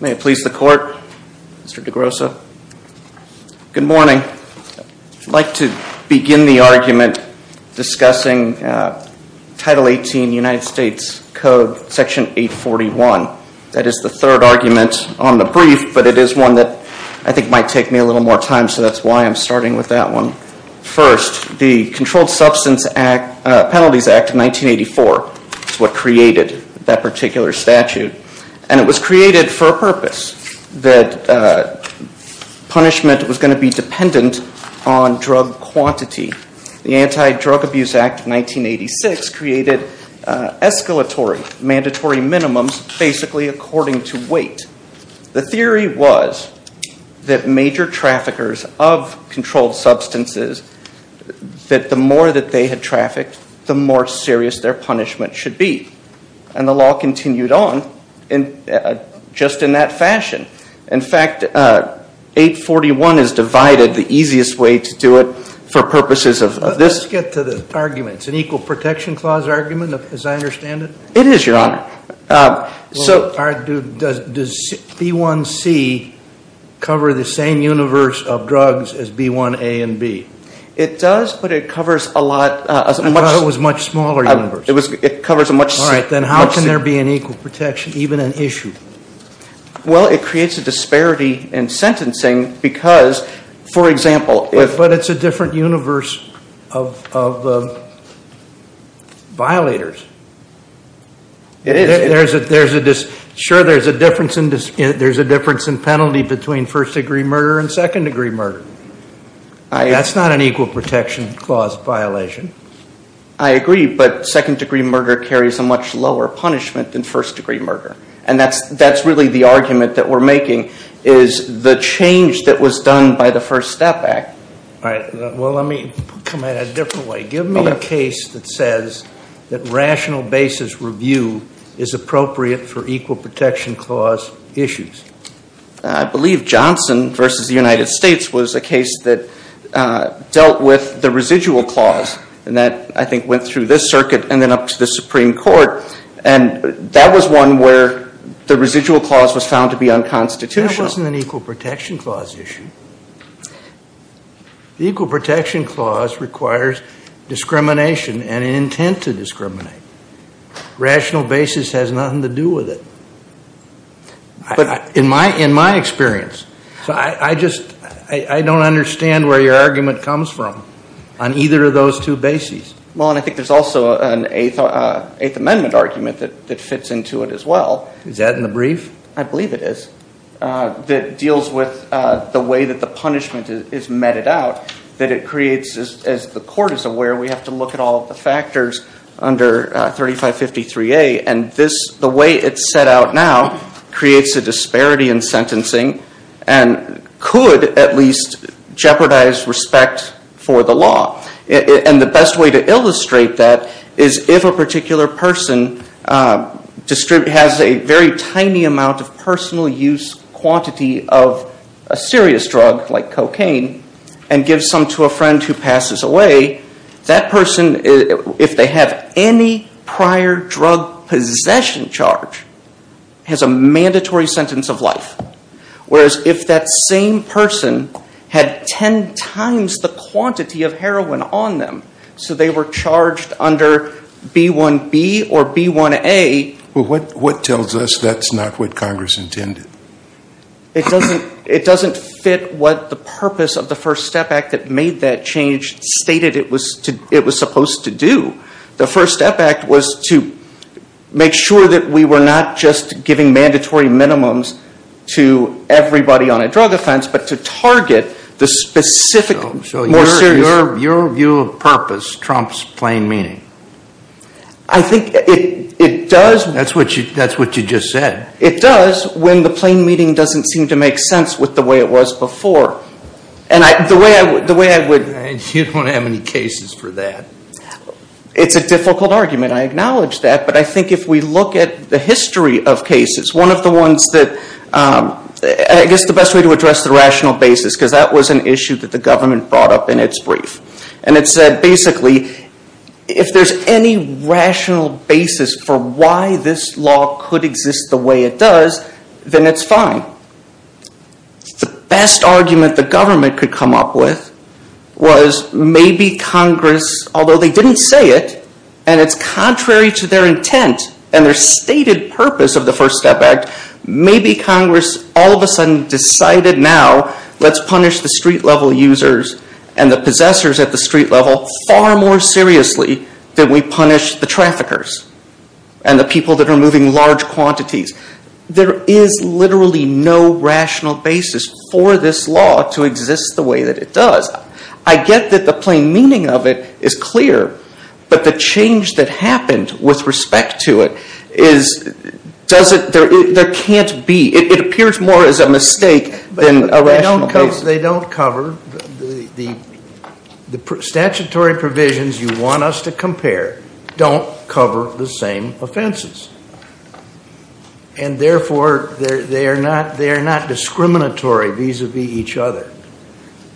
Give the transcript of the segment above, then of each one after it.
May it please the court, Mr. DeGrosso. Good morning. I'd like to begin the argument discussing Title 18 United States Code, Section 841. That is the third argument on the brief, but it is one that I think might take me a little more time, so that's why I'm starting with that one. First, the Controlled Substance Penalties Act of 1984 is what created that particular statute, and it was created for a purpose, that punishment was going to be dependent on drug quantity. The Anti-Drug Abuse Act of 1986 created escalatory, mandatory minimums, basically according to weight. The theory was that major traffickers of controlled substances, that the more that they had trafficked, the more serious their punishment should be, and the law continued on just in that fashion. In fact, 841 is divided the easiest way to do it for purposes of this. Let's get to the argument. It's an Equal Protection Clause argument, as I understand it? It is, Your Honor. Does B1C cover the same universe of drugs as B1A and B? It does, but it covers a much smaller universe. Then how can there be an equal protection, even an issue? Well, it creates a disparity in sentencing because, for example... But it's a different universe of violators. It is. Sure, there's a difference in penalty between first degree murder and second degree murder. That's not an equal protection clause violation. I agree, but second degree murder carries a much lower punishment than first degree murder, and that's really the argument that we're making, is the change that was done by the First Step Act. All right. Well, let me come at it a different way. Give me a case that says that rational basis review is appropriate for equal protection clause issues. I believe Johnson v. The United States was a case that dealt with the residual clause, and that, I think, went through this circuit and then up to the Supreme Court, and that was one where the residual clause was found to be unconstitutional. But that wasn't an equal protection clause issue. The equal protection clause requires discrimination and an intent to discriminate. Rational basis has nothing to do with it, in my experience. So I just, I don't understand where your argument comes from on either of those two bases. Well, and I think there's also an Eighth Amendment argument that fits into it as well. Is that in the brief? I believe it is, that deals with the way that the punishment is meted out, that it creates, as the court is aware, we have to look at all of the factors under 3553A, and this, the way it's set out now, creates a disparity in sentencing and could at least jeopardize respect for the law. And the best way to illustrate that is if a particular person has a very tiny amount of personal use quantity of a serious drug, like cocaine, and gives some to a friend who passes away, that person, if they have any prior drug possession charge, has a mandatory sentence of life. Whereas if that same person had ten times the quantity of heroin on them, so they were charged under B1B or B1A. Well, what tells us that's not what Congress intended? It doesn't fit what the purpose of the First Step Act that made that change stated it was supposed to do. The First Step Act was to make sure that we were not just giving mandatory minimums to everybody on a drug offense, but to target the specific, more serious. So your view of purpose trumps plain meaning? I think it does. That's what you just said. It does when the plain meaning doesn't seem to make sense with the way it was before. And the way I would. You don't have any cases for that. It's a difficult argument. I acknowledge that. But I think if we look at the history of cases, one of the ones that, I guess the best way to address the rational basis, because that was an issue that the government brought up in its brief. And it said basically, if there's any rational basis for why this law could exist the way it does, then it's fine. The best argument the government could come up with was maybe Congress, although they didn't say it, and it's contrary to their intent and their stated purpose of the First Step Act, maybe Congress all of a sudden decided now, let's punish the street level users and the possessors at the street level far more seriously than we punish the traffickers and the people that are moving large quantities. There is literally no rational basis for this law to exist the way that it does. I get that the plain meaning of it is clear, but the change that happened with respect to it is, does it, there can't be, it appears more as a mistake than a rational basis. They don't cover, the statutory provisions you want us to compare don't cover the same offenses. And therefore, they are not discriminatory vis-a-vis each other.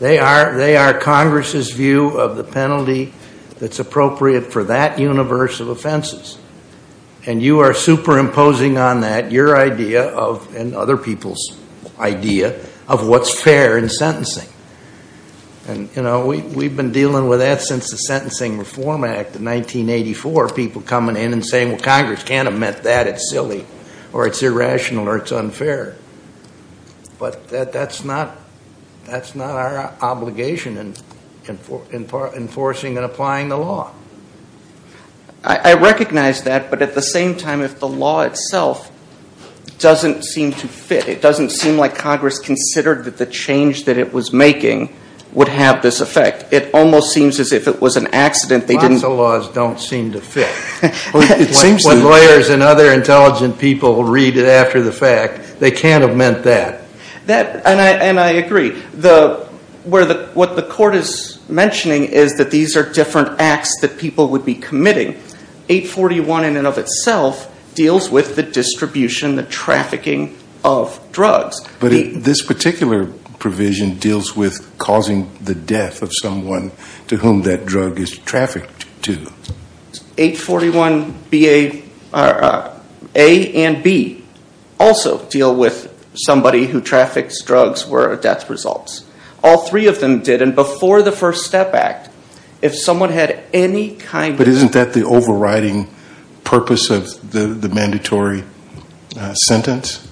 They are Congress's review of the penalty that's appropriate for that universe of offenses. And you are superimposing on that your idea of, and other people's idea, of what's fair in sentencing. And we've been dealing with that since the Sentencing Reform Act of 1984, people coming in and saying, well, Congress can't have meant that, it's silly, or it's irrational, or it's enforcing and applying the law. I recognize that, but at the same time, if the law itself doesn't seem to fit, it doesn't seem like Congress considered that the change that it was making would have this effect. It almost seems as if it was an accident, they didn't. Lots of laws don't seem to fit. It seems to. When lawyers and other intelligent people read it after the fact, they can't have meant that. And I agree. What the court is mentioning is that these are different acts that people would be committing. 841 in and of itself deals with the distribution, the trafficking of drugs. But this particular provision deals with causing the death of someone to whom that drug is trafficked to. 841A and 841B also deal with somebody who traffics drugs where death results. All three of them did. And before the First Step Act, if someone had any kind of... But isn't that the overriding purpose of the mandatory sentence?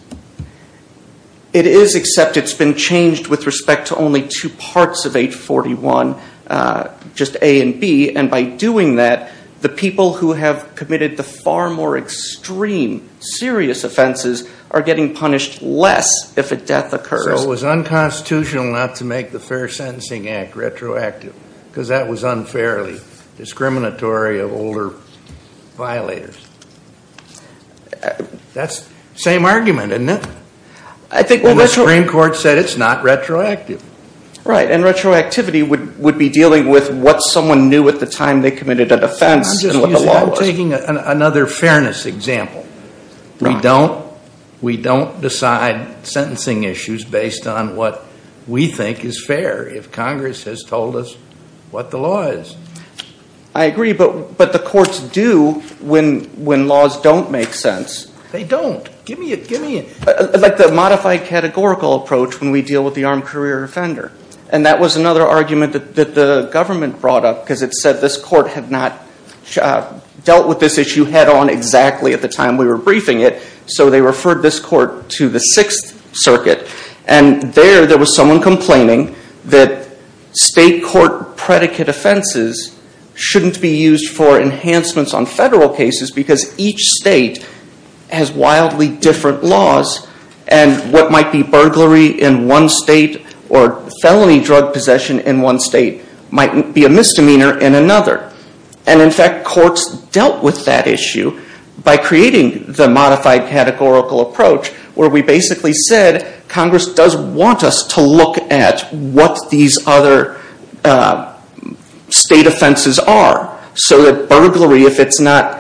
It is, except it's been changed with respect to only two parts of 841, just 841A and 841B. And by doing that, the people who have committed the far more extreme, serious offenses are getting punished less if a death occurs. So it was unconstitutional not to make the Fair Sentencing Act retroactive because that was unfairly discriminatory of older violators. That's the same argument, isn't it? I think... And the Supreme Court said it's not retroactive. Right. And retroactivity would be dealing with what someone knew at the time they committed a defense and what the law was. I'm just using... I'm taking another fairness example. We don't decide sentencing issues based on what we think is fair if Congress has told us what the law is. I agree. But the courts do when laws don't make sense. They don't. Give me a... Like the modified categorical approach when we deal with the armed career offender. And that was another argument that the government brought up because it said this court had not dealt with this issue head on exactly at the time we were briefing it. So they referred this court to the Sixth Circuit. And there, there was someone complaining that state court predicate offenses shouldn't be used for enhancements on federal cases because each state has wildly different laws and what might be burglary in one state or felony drug possession in one state might be a misdemeanor in another. And in fact, courts dealt with that issue by creating the modified categorical approach where we basically said Congress does want us to look at what these other state offenses are. So that burglary, if it's not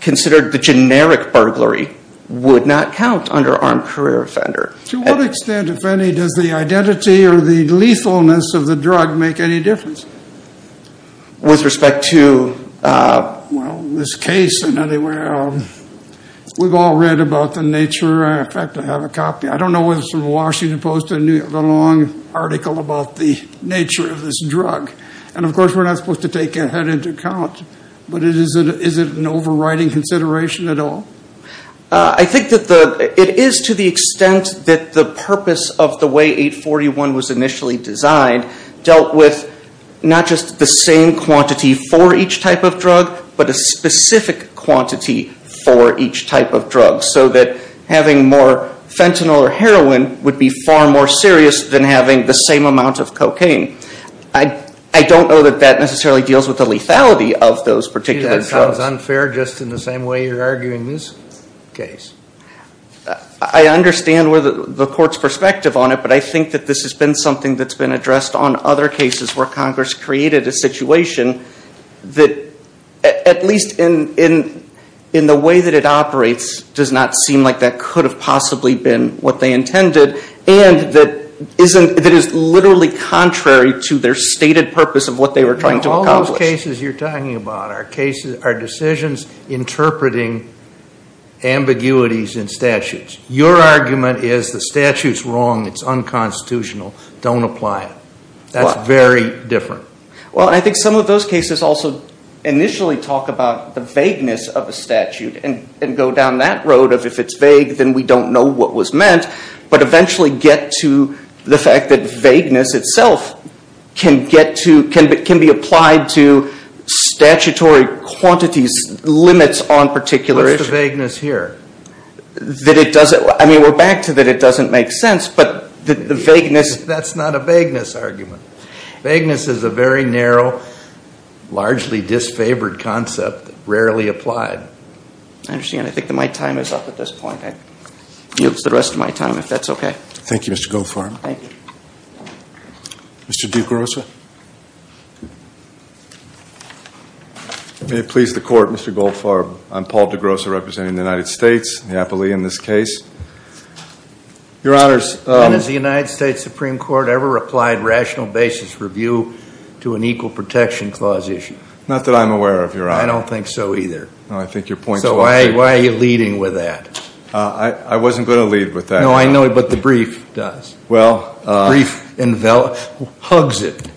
considered the generic burglary, would not count under armed career offender. To what extent, if any, does the identity or the lethalness of the drug make any difference? With respect to... Well, this case in any way, we've all read about the nature, in fact, I have a copy. I don't know whether it's from Washington Post or New York, but a long article about the nature of this drug. And of course, we're not supposed to take that into account, but is it an overriding consideration at all? I think that it is to the extent that the purpose of the way 841 was initially designed dealt with not just the same quantity for each type of drug, but a specific quantity for each type of drug. So that having more fentanyl or heroin would be far more serious than having the same amount of cocaine. I don't know that that necessarily deals with the lethality of those particular drugs. Gee, that sounds unfair just in the same way you're arguing this case. I understand the court's perspective on it, but I think that this has been something that's been addressed on other cases where Congress created a situation that, at least in the way that it operates, does not seem like that could have possibly been what they intended and that is literally contrary to their stated purpose of what they were trying to accomplish. All those cases you're talking about are decisions interpreting ambiguities in statutes. Your argument is the statute's wrong, it's unconstitutional, don't apply it. That's very different. Well, I think some of those cases also initially talk about the vagueness of a statute and go down that road of if it's vague, then we don't know what was meant, but eventually get to the fact that vagueness itself can be applied to statutory quantities, limits on particular issues. What's the vagueness here? That it doesn't, I mean, we're back to that it doesn't make sense, but the vagueness... That's not a vagueness argument. Vagueness is a very narrow, largely disfavored concept that's rarely applied. I understand, I think that my time is up at this point, I can use the rest of my time if that's okay. Thank you, Mr. Goldfarb. Thank you. Mr. DeGrossa. May it please the Court, Mr. Goldfarb, I'm Paul DeGrossa representing the United States, Neapolitan in this case. Your Honors... And has the United States Supreme Court ever applied rational basis review to an equal protection clause issue? Not that I'm aware of, Your Honor. I don't think so either. No, I think your point's well taken. So why are you leading with that? I wasn't going to lead with that. No, I know, but the brief does. Well... Brief and valid, hugs it.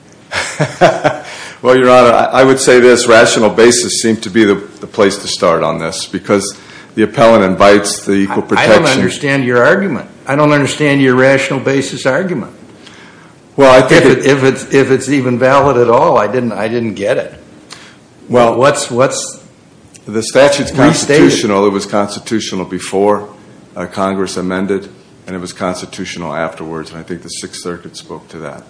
Well, Your Honor, I would say this, rational basis seemed to be the place to start on this because the appellant invites the equal protection... I don't understand your argument. I don't understand your rational basis argument. Well I think... If it's even valid at all, I didn't get it. Well, what's... The statute's constitutional, it was constitutional before Congress amended and it was constitutional afterwards and I think the Sixth Circuit spoke to that.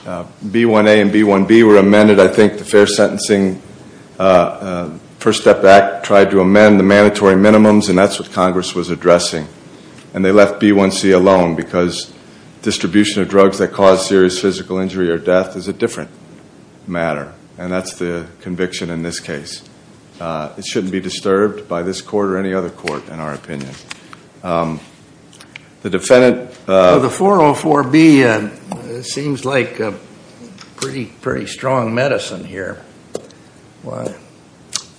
B1A and B1B were amended, I think the Fair Sentencing First Step Act tried to amend the mandatory minimums and that's what Congress was addressing. And they left B1C alone because distribution of drugs that cause serious physical injury or death is a different matter. And that's the conviction in this case. It shouldn't be disturbed by this court or any other court in our opinion. The defendant... Well, the 404B seems like a pretty strong medicine here. Why...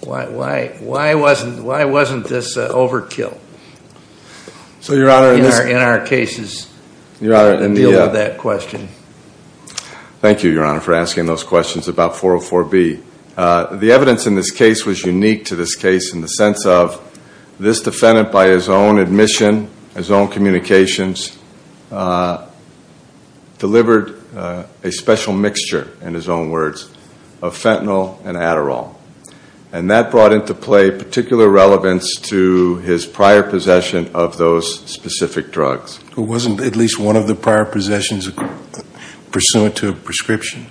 Why... Why... Why wasn't... Why wasn't this overkill in our cases to deal with that question? Thank you, Your Honor, for asking those questions about 404B. The evidence in this case was unique to this case in the sense of this defendant by his own admission, his own communications, delivered a special mixture, in his own words, of fentanyl and Adderall. And that brought into play particular relevance to his prior possession of those specific drugs. It wasn't at least one of the prior possessions pursuant to a prescription?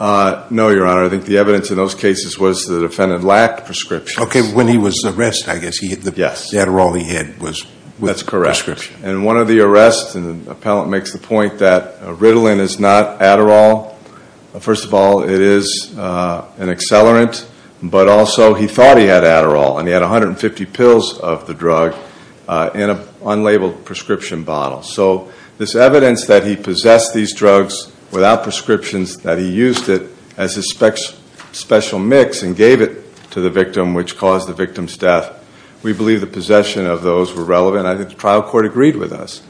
No, Your Honor. I think the evidence in those cases was the defendant lacked prescriptions. Okay, when he was arrested, I guess, he had the Adderall he had was... That's correct. Prescription. And one of the arrests, and the appellant makes the point that Ritalin is not Adderall. First of all, it is an accelerant, but also he thought he had Adderall and he had 150 pills of the drug in an unlabeled prescription bottle. So this evidence that he possessed these drugs without prescriptions, that he used it as his special mix and gave it to the victim, which caused the victim's death, we believe the possession of those were relevant. I think the trial court agreed with us.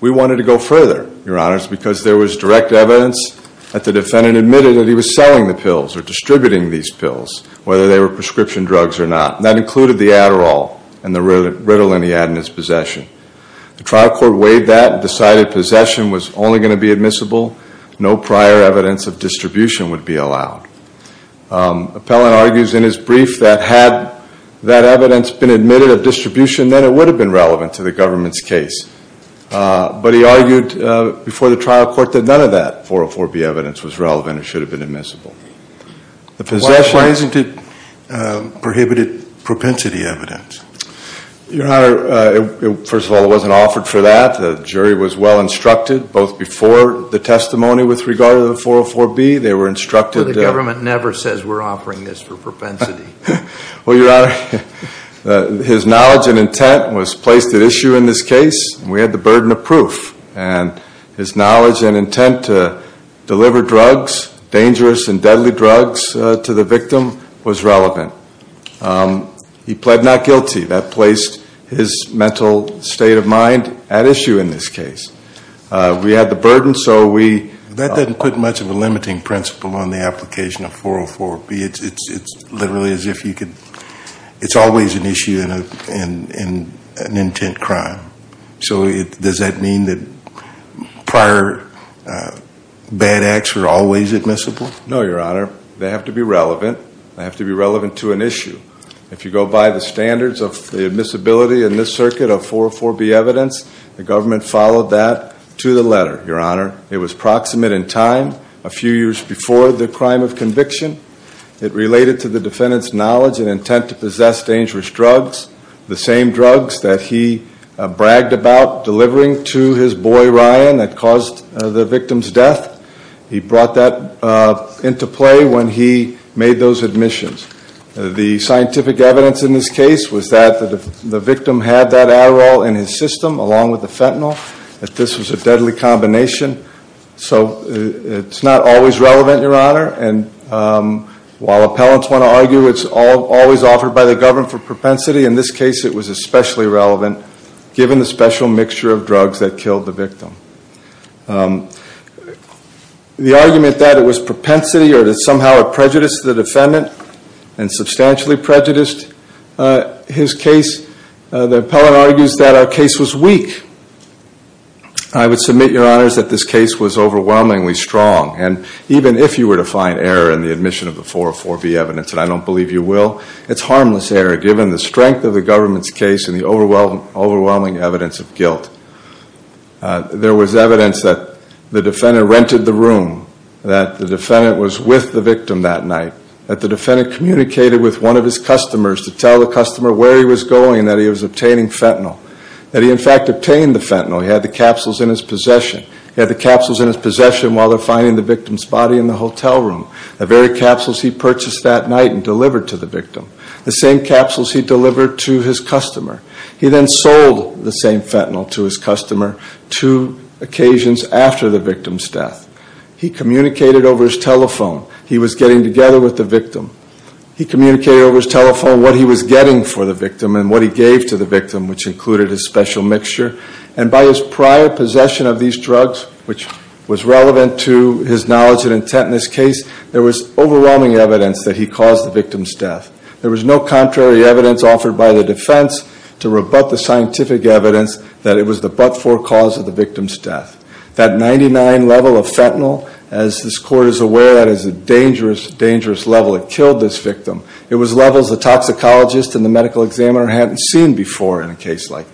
We wanted to go further, Your Honor, because there was direct evidence that the defendant admitted that he was selling the pills or distributing these pills, whether they were prescription drugs or not. That included the Adderall and the Ritalin he had in his possession. The trial court weighed that and decided possession was only going to be admissible. No prior evidence of distribution would be allowed. Appellant argues in his brief that had that evidence been admitted of distribution, then it would have been relevant to the government's case. But he argued before the trial court that none of that 404B evidence was relevant and should have been admissible. Why wasn't it prohibited propensity evidence? Your Honor, first of all, it wasn't offered for that. The jury was well instructed, both before the testimony with regard to the 404B. They were instructed. The government never says we're offering this for propensity. Well, Your Honor, his knowledge and intent was placed at issue in this case. We had the burden of proof. And his knowledge and intent to deliver drugs, dangerous and deadly drugs, to the victim was relevant. He pled not guilty. That placed his mental state of mind at issue in this case. We had the burden, so we... That doesn't put much of a limiting principle on the application of 404B. It's literally as if you could... It's always an issue in an intent crime. So does that mean that prior bad acts are always admissible? No, Your Honor. They have to be relevant. They have to be relevant to an issue. If you go by the standards of the admissibility in this circuit of 404B evidence, the government followed that to the letter, Your Honor. It was proximate in time, a few years before the crime of conviction. It related to the defendant's knowledge and intent to possess dangerous drugs. The same drugs that he bragged about delivering to his boy Ryan that caused the victim's death. He brought that into play when he made those admissions. The scientific evidence in this case was that the victim had that Adderall in his system along with the fentanyl, that this was a deadly combination. So it's not always relevant, Your Honor, and while appellants want to argue it's always offered by the government for propensity, in this case it was especially relevant given the special mixture of drugs that killed the victim. The argument that it was propensity or that somehow it prejudiced the defendant and substantially prejudiced his case, the appellant argues that our case was weak. I would submit, Your Honors, that this case was overwhelmingly strong and even if you were to find error in the admission of the 404B evidence, and I don't believe you will, it's harmless error given the strength of the government's case and the overwhelming evidence of guilt. There was evidence that the defendant rented the room, that the defendant was with the victim that night, that the defendant communicated with one of his customers to tell the customer where he was going, that he was obtaining fentanyl, that he in fact obtained the fentanyl, he had the capsules in his possession, he had the capsules in his possession while they're finding the victim's body in the hotel room, the very capsules he purchased that night and delivered to the victim, the same capsules he delivered to his customer. He then sold the same fentanyl to his customer two occasions after the victim's death. He communicated over his telephone. He was getting together with the victim. He communicated over his telephone what he was getting for the victim and what he gave to the victim, which included his special mixture. And by his prior possession of these drugs, which was relevant to his knowledge and intent in this case, there was overwhelming evidence that he caused the victim's death. There was no contrary evidence offered by the defense to rebut the scientific evidence that it was the but-for cause of the victim's death. That 99 level of fentanyl, as this Court is aware, that is a dangerous, dangerous level. It killed this victim. It was levels the toxicologist and the medical examiner hadn't seen before in a case like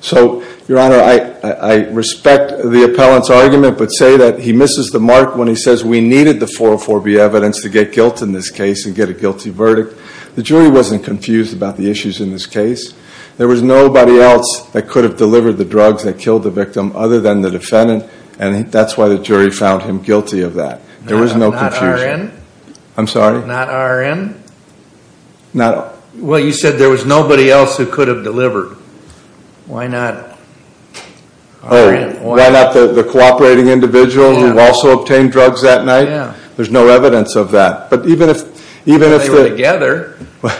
So, Your Honor, I respect the appellant's argument, but say that he misses the mark when he says we needed the 404B evidence to get guilt in this case and get a guilty verdict. The jury wasn't confused about the issues in this case. There was nobody else that could have delivered the drugs that killed the victim other than the defendant, and that's why the jury found him guilty of that. There was no confusion. Not RN? I'm sorry? Not RN? Not... Well, you said there was nobody else who could have delivered. Why not RN? Why not the cooperating individual who also obtained drugs that night? There's no evidence of that. But even if... They were together. Well,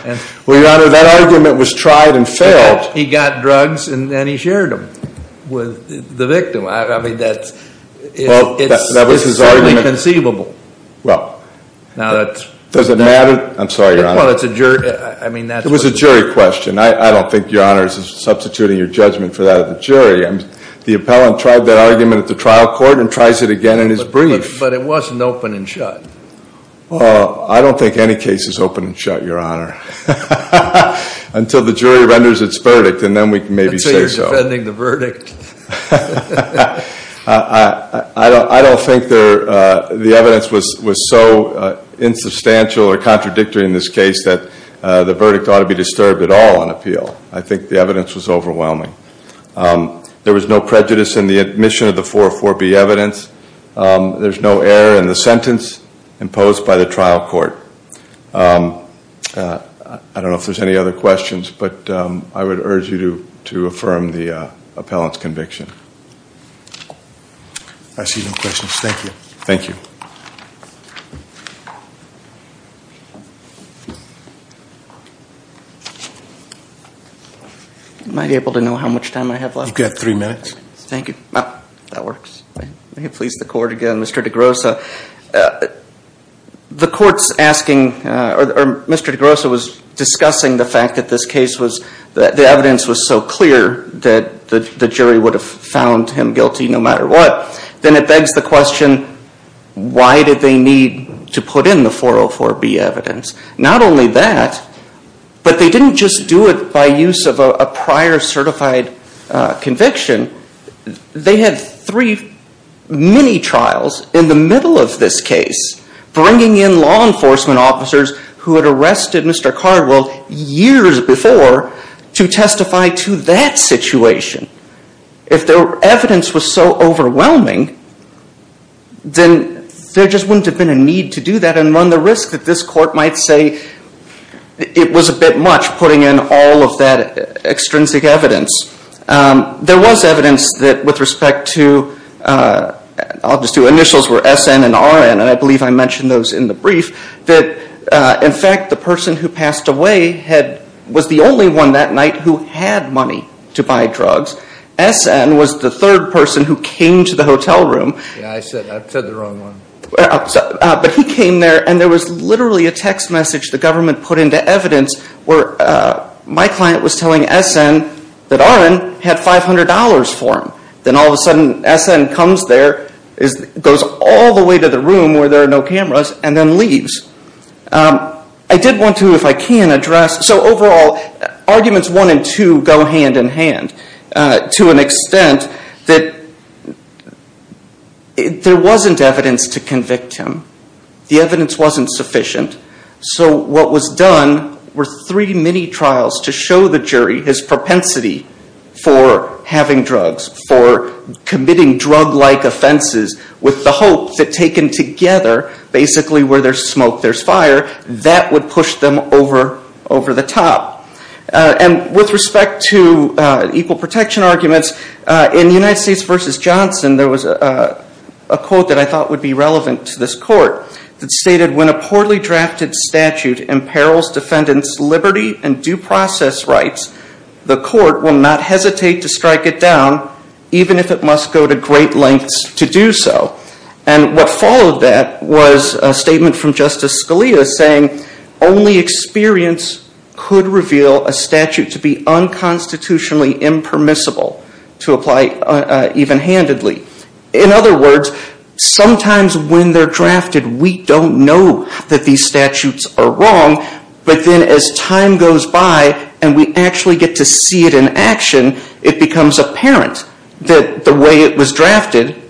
Your Honor, that argument was tried and failed. He got drugs and then he shared them with the victim. I mean, that's... Well, that was his argument. It's certainly conceivable. Well, does it matter? I'm sorry, Your Honor. Well, it's a jury... I mean, that's... It was a jury question. I don't think Your Honor is substituting your judgment for that of the jury. The appellant tried that argument at the trial court and tries it again in his brief. But it wasn't open and shut. I don't think any case is open and shut, Your Honor, until the jury renders its verdict, and then we can maybe say so. I'd say you're defending the verdict. I don't think the evidence was so insubstantial or contradictory in this case that the verdict ought to be disturbed at all on appeal. I think the evidence was overwhelming. There was no prejudice in the admission of the 404B evidence. There's no error in the sentence imposed by the trial court. I don't know if there's any other questions, but I would urge you to affirm the appellant's conviction. I see no questions. Thank you. Thank you. Am I able to know how much time I have left? You've got three minutes. Thank you. Oh, that works. May it please the court again, Mr. DeGrossa. The court's asking, or Mr. DeGrossa was discussing the fact that this case was, that the evidence was so clear that the jury would have found him guilty no matter what. Then it begs the question, why did they need to put in the 404B evidence? Not only that, but they didn't just do it by use of a prior certified conviction. They had three mini-trials in the middle of this case, bringing in law enforcement officers who had arrested Mr. Cardwell years before to testify to that situation. If the evidence was so overwhelming, then there just wouldn't have been a need to do that and run the risk that this court might say it was a bit much putting in all of that extrinsic evidence. There was evidence that with respect to, I'll just do initials where SN and RN, and I believe I mentioned those in the brief, that in fact the person who passed away was the only one that night who had money to buy drugs. SN was the third person who came to the hotel room. Yeah, I said the wrong one. But he came there and there was literally a text message the government put into evidence where my client was telling SN that RN had $500 for him. Then all of a sudden SN comes there, goes all the way to the room where there are no cameras and then leaves. I did want to, if I can, address, so overall, arguments one and two go hand in hand to an extent that there wasn't evidence to convict him. The evidence wasn't sufficient. So what was done were three mini-trials to show the jury his propensity for having drugs, for committing drug-like offenses with the hope that taken together, basically where there's smoke, there's fire, that would push them over the top. With respect to equal protection arguments, in United States v. Johnson, there was a quote that I thought would be relevant to this court that stated, when a poorly drafted statute imperils defendant's liberty and due process rights, the court will not hesitate to strike it down, even if it must go to great lengths to do so. What followed that was a statement from Justice Scalia saying, only experience could reveal a statute to be unconstitutionally impermissible to apply even-handedly. In other words, sometimes when they're drafted, we don't know that these statutes are wrong, but then as time goes by and we actually get to see it in action, it becomes apparent that the way it was drafted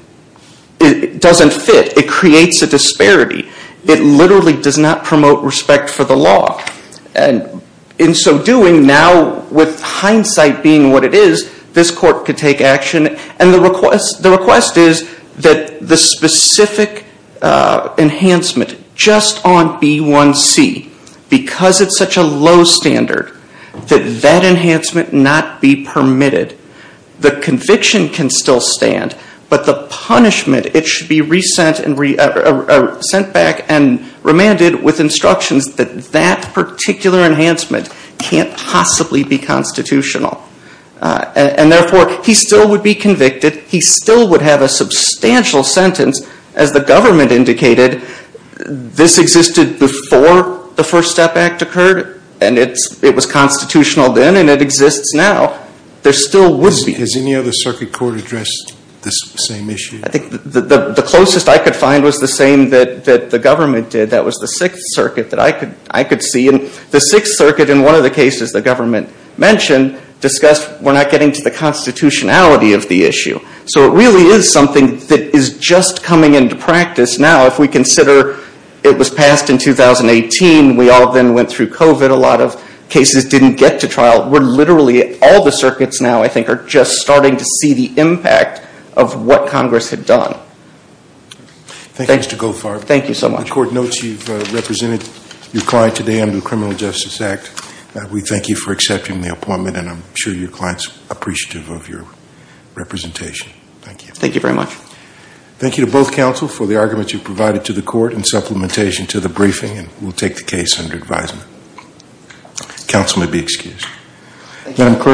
doesn't fit. It creates a disparity. It literally does not promote respect for the law. In so doing, now with hindsight being what it is, this court could take action. The request is that the specific enhancement just on B1c, because it's such a low standard, that that enhancement not be permitted. The conviction can still stand, but the punishment, it should be sent back and remanded with instructions that that particular enhancement can't possibly be constitutional. And therefore, he still would be convicted. He still would have a substantial sentence, as the government indicated. This existed before the First Step Act occurred, and it was constitutional then, and it exists now. There still would be. Has any other circuit court addressed this same issue? I think the closest I could find was the same that the government did. That was the Sixth Circuit that I could see. And the Sixth Circuit, in one of the cases the government mentioned, discussed we're not getting to the constitutionality of the issue. So it really is something that is just coming into practice now. If we consider it was passed in 2018, we all then went through COVID, a lot of cases didn't get to trial. We're literally, all the circuits now, I think, are just starting to see the impact of what Congress had done. Thank you, Mr. Goldfarb. Thank you so much. The court notes you've represented your client today under the Criminal Justice Act. We thank you for accepting the appointment, and I'm sure your client's appreciative of your representation. Thank you. Thank you very much. Thank you to both counsel for the arguments you provided to the court in supplementation to the briefing, and we'll take the case under advisement. Counsel may be excused. Thank you.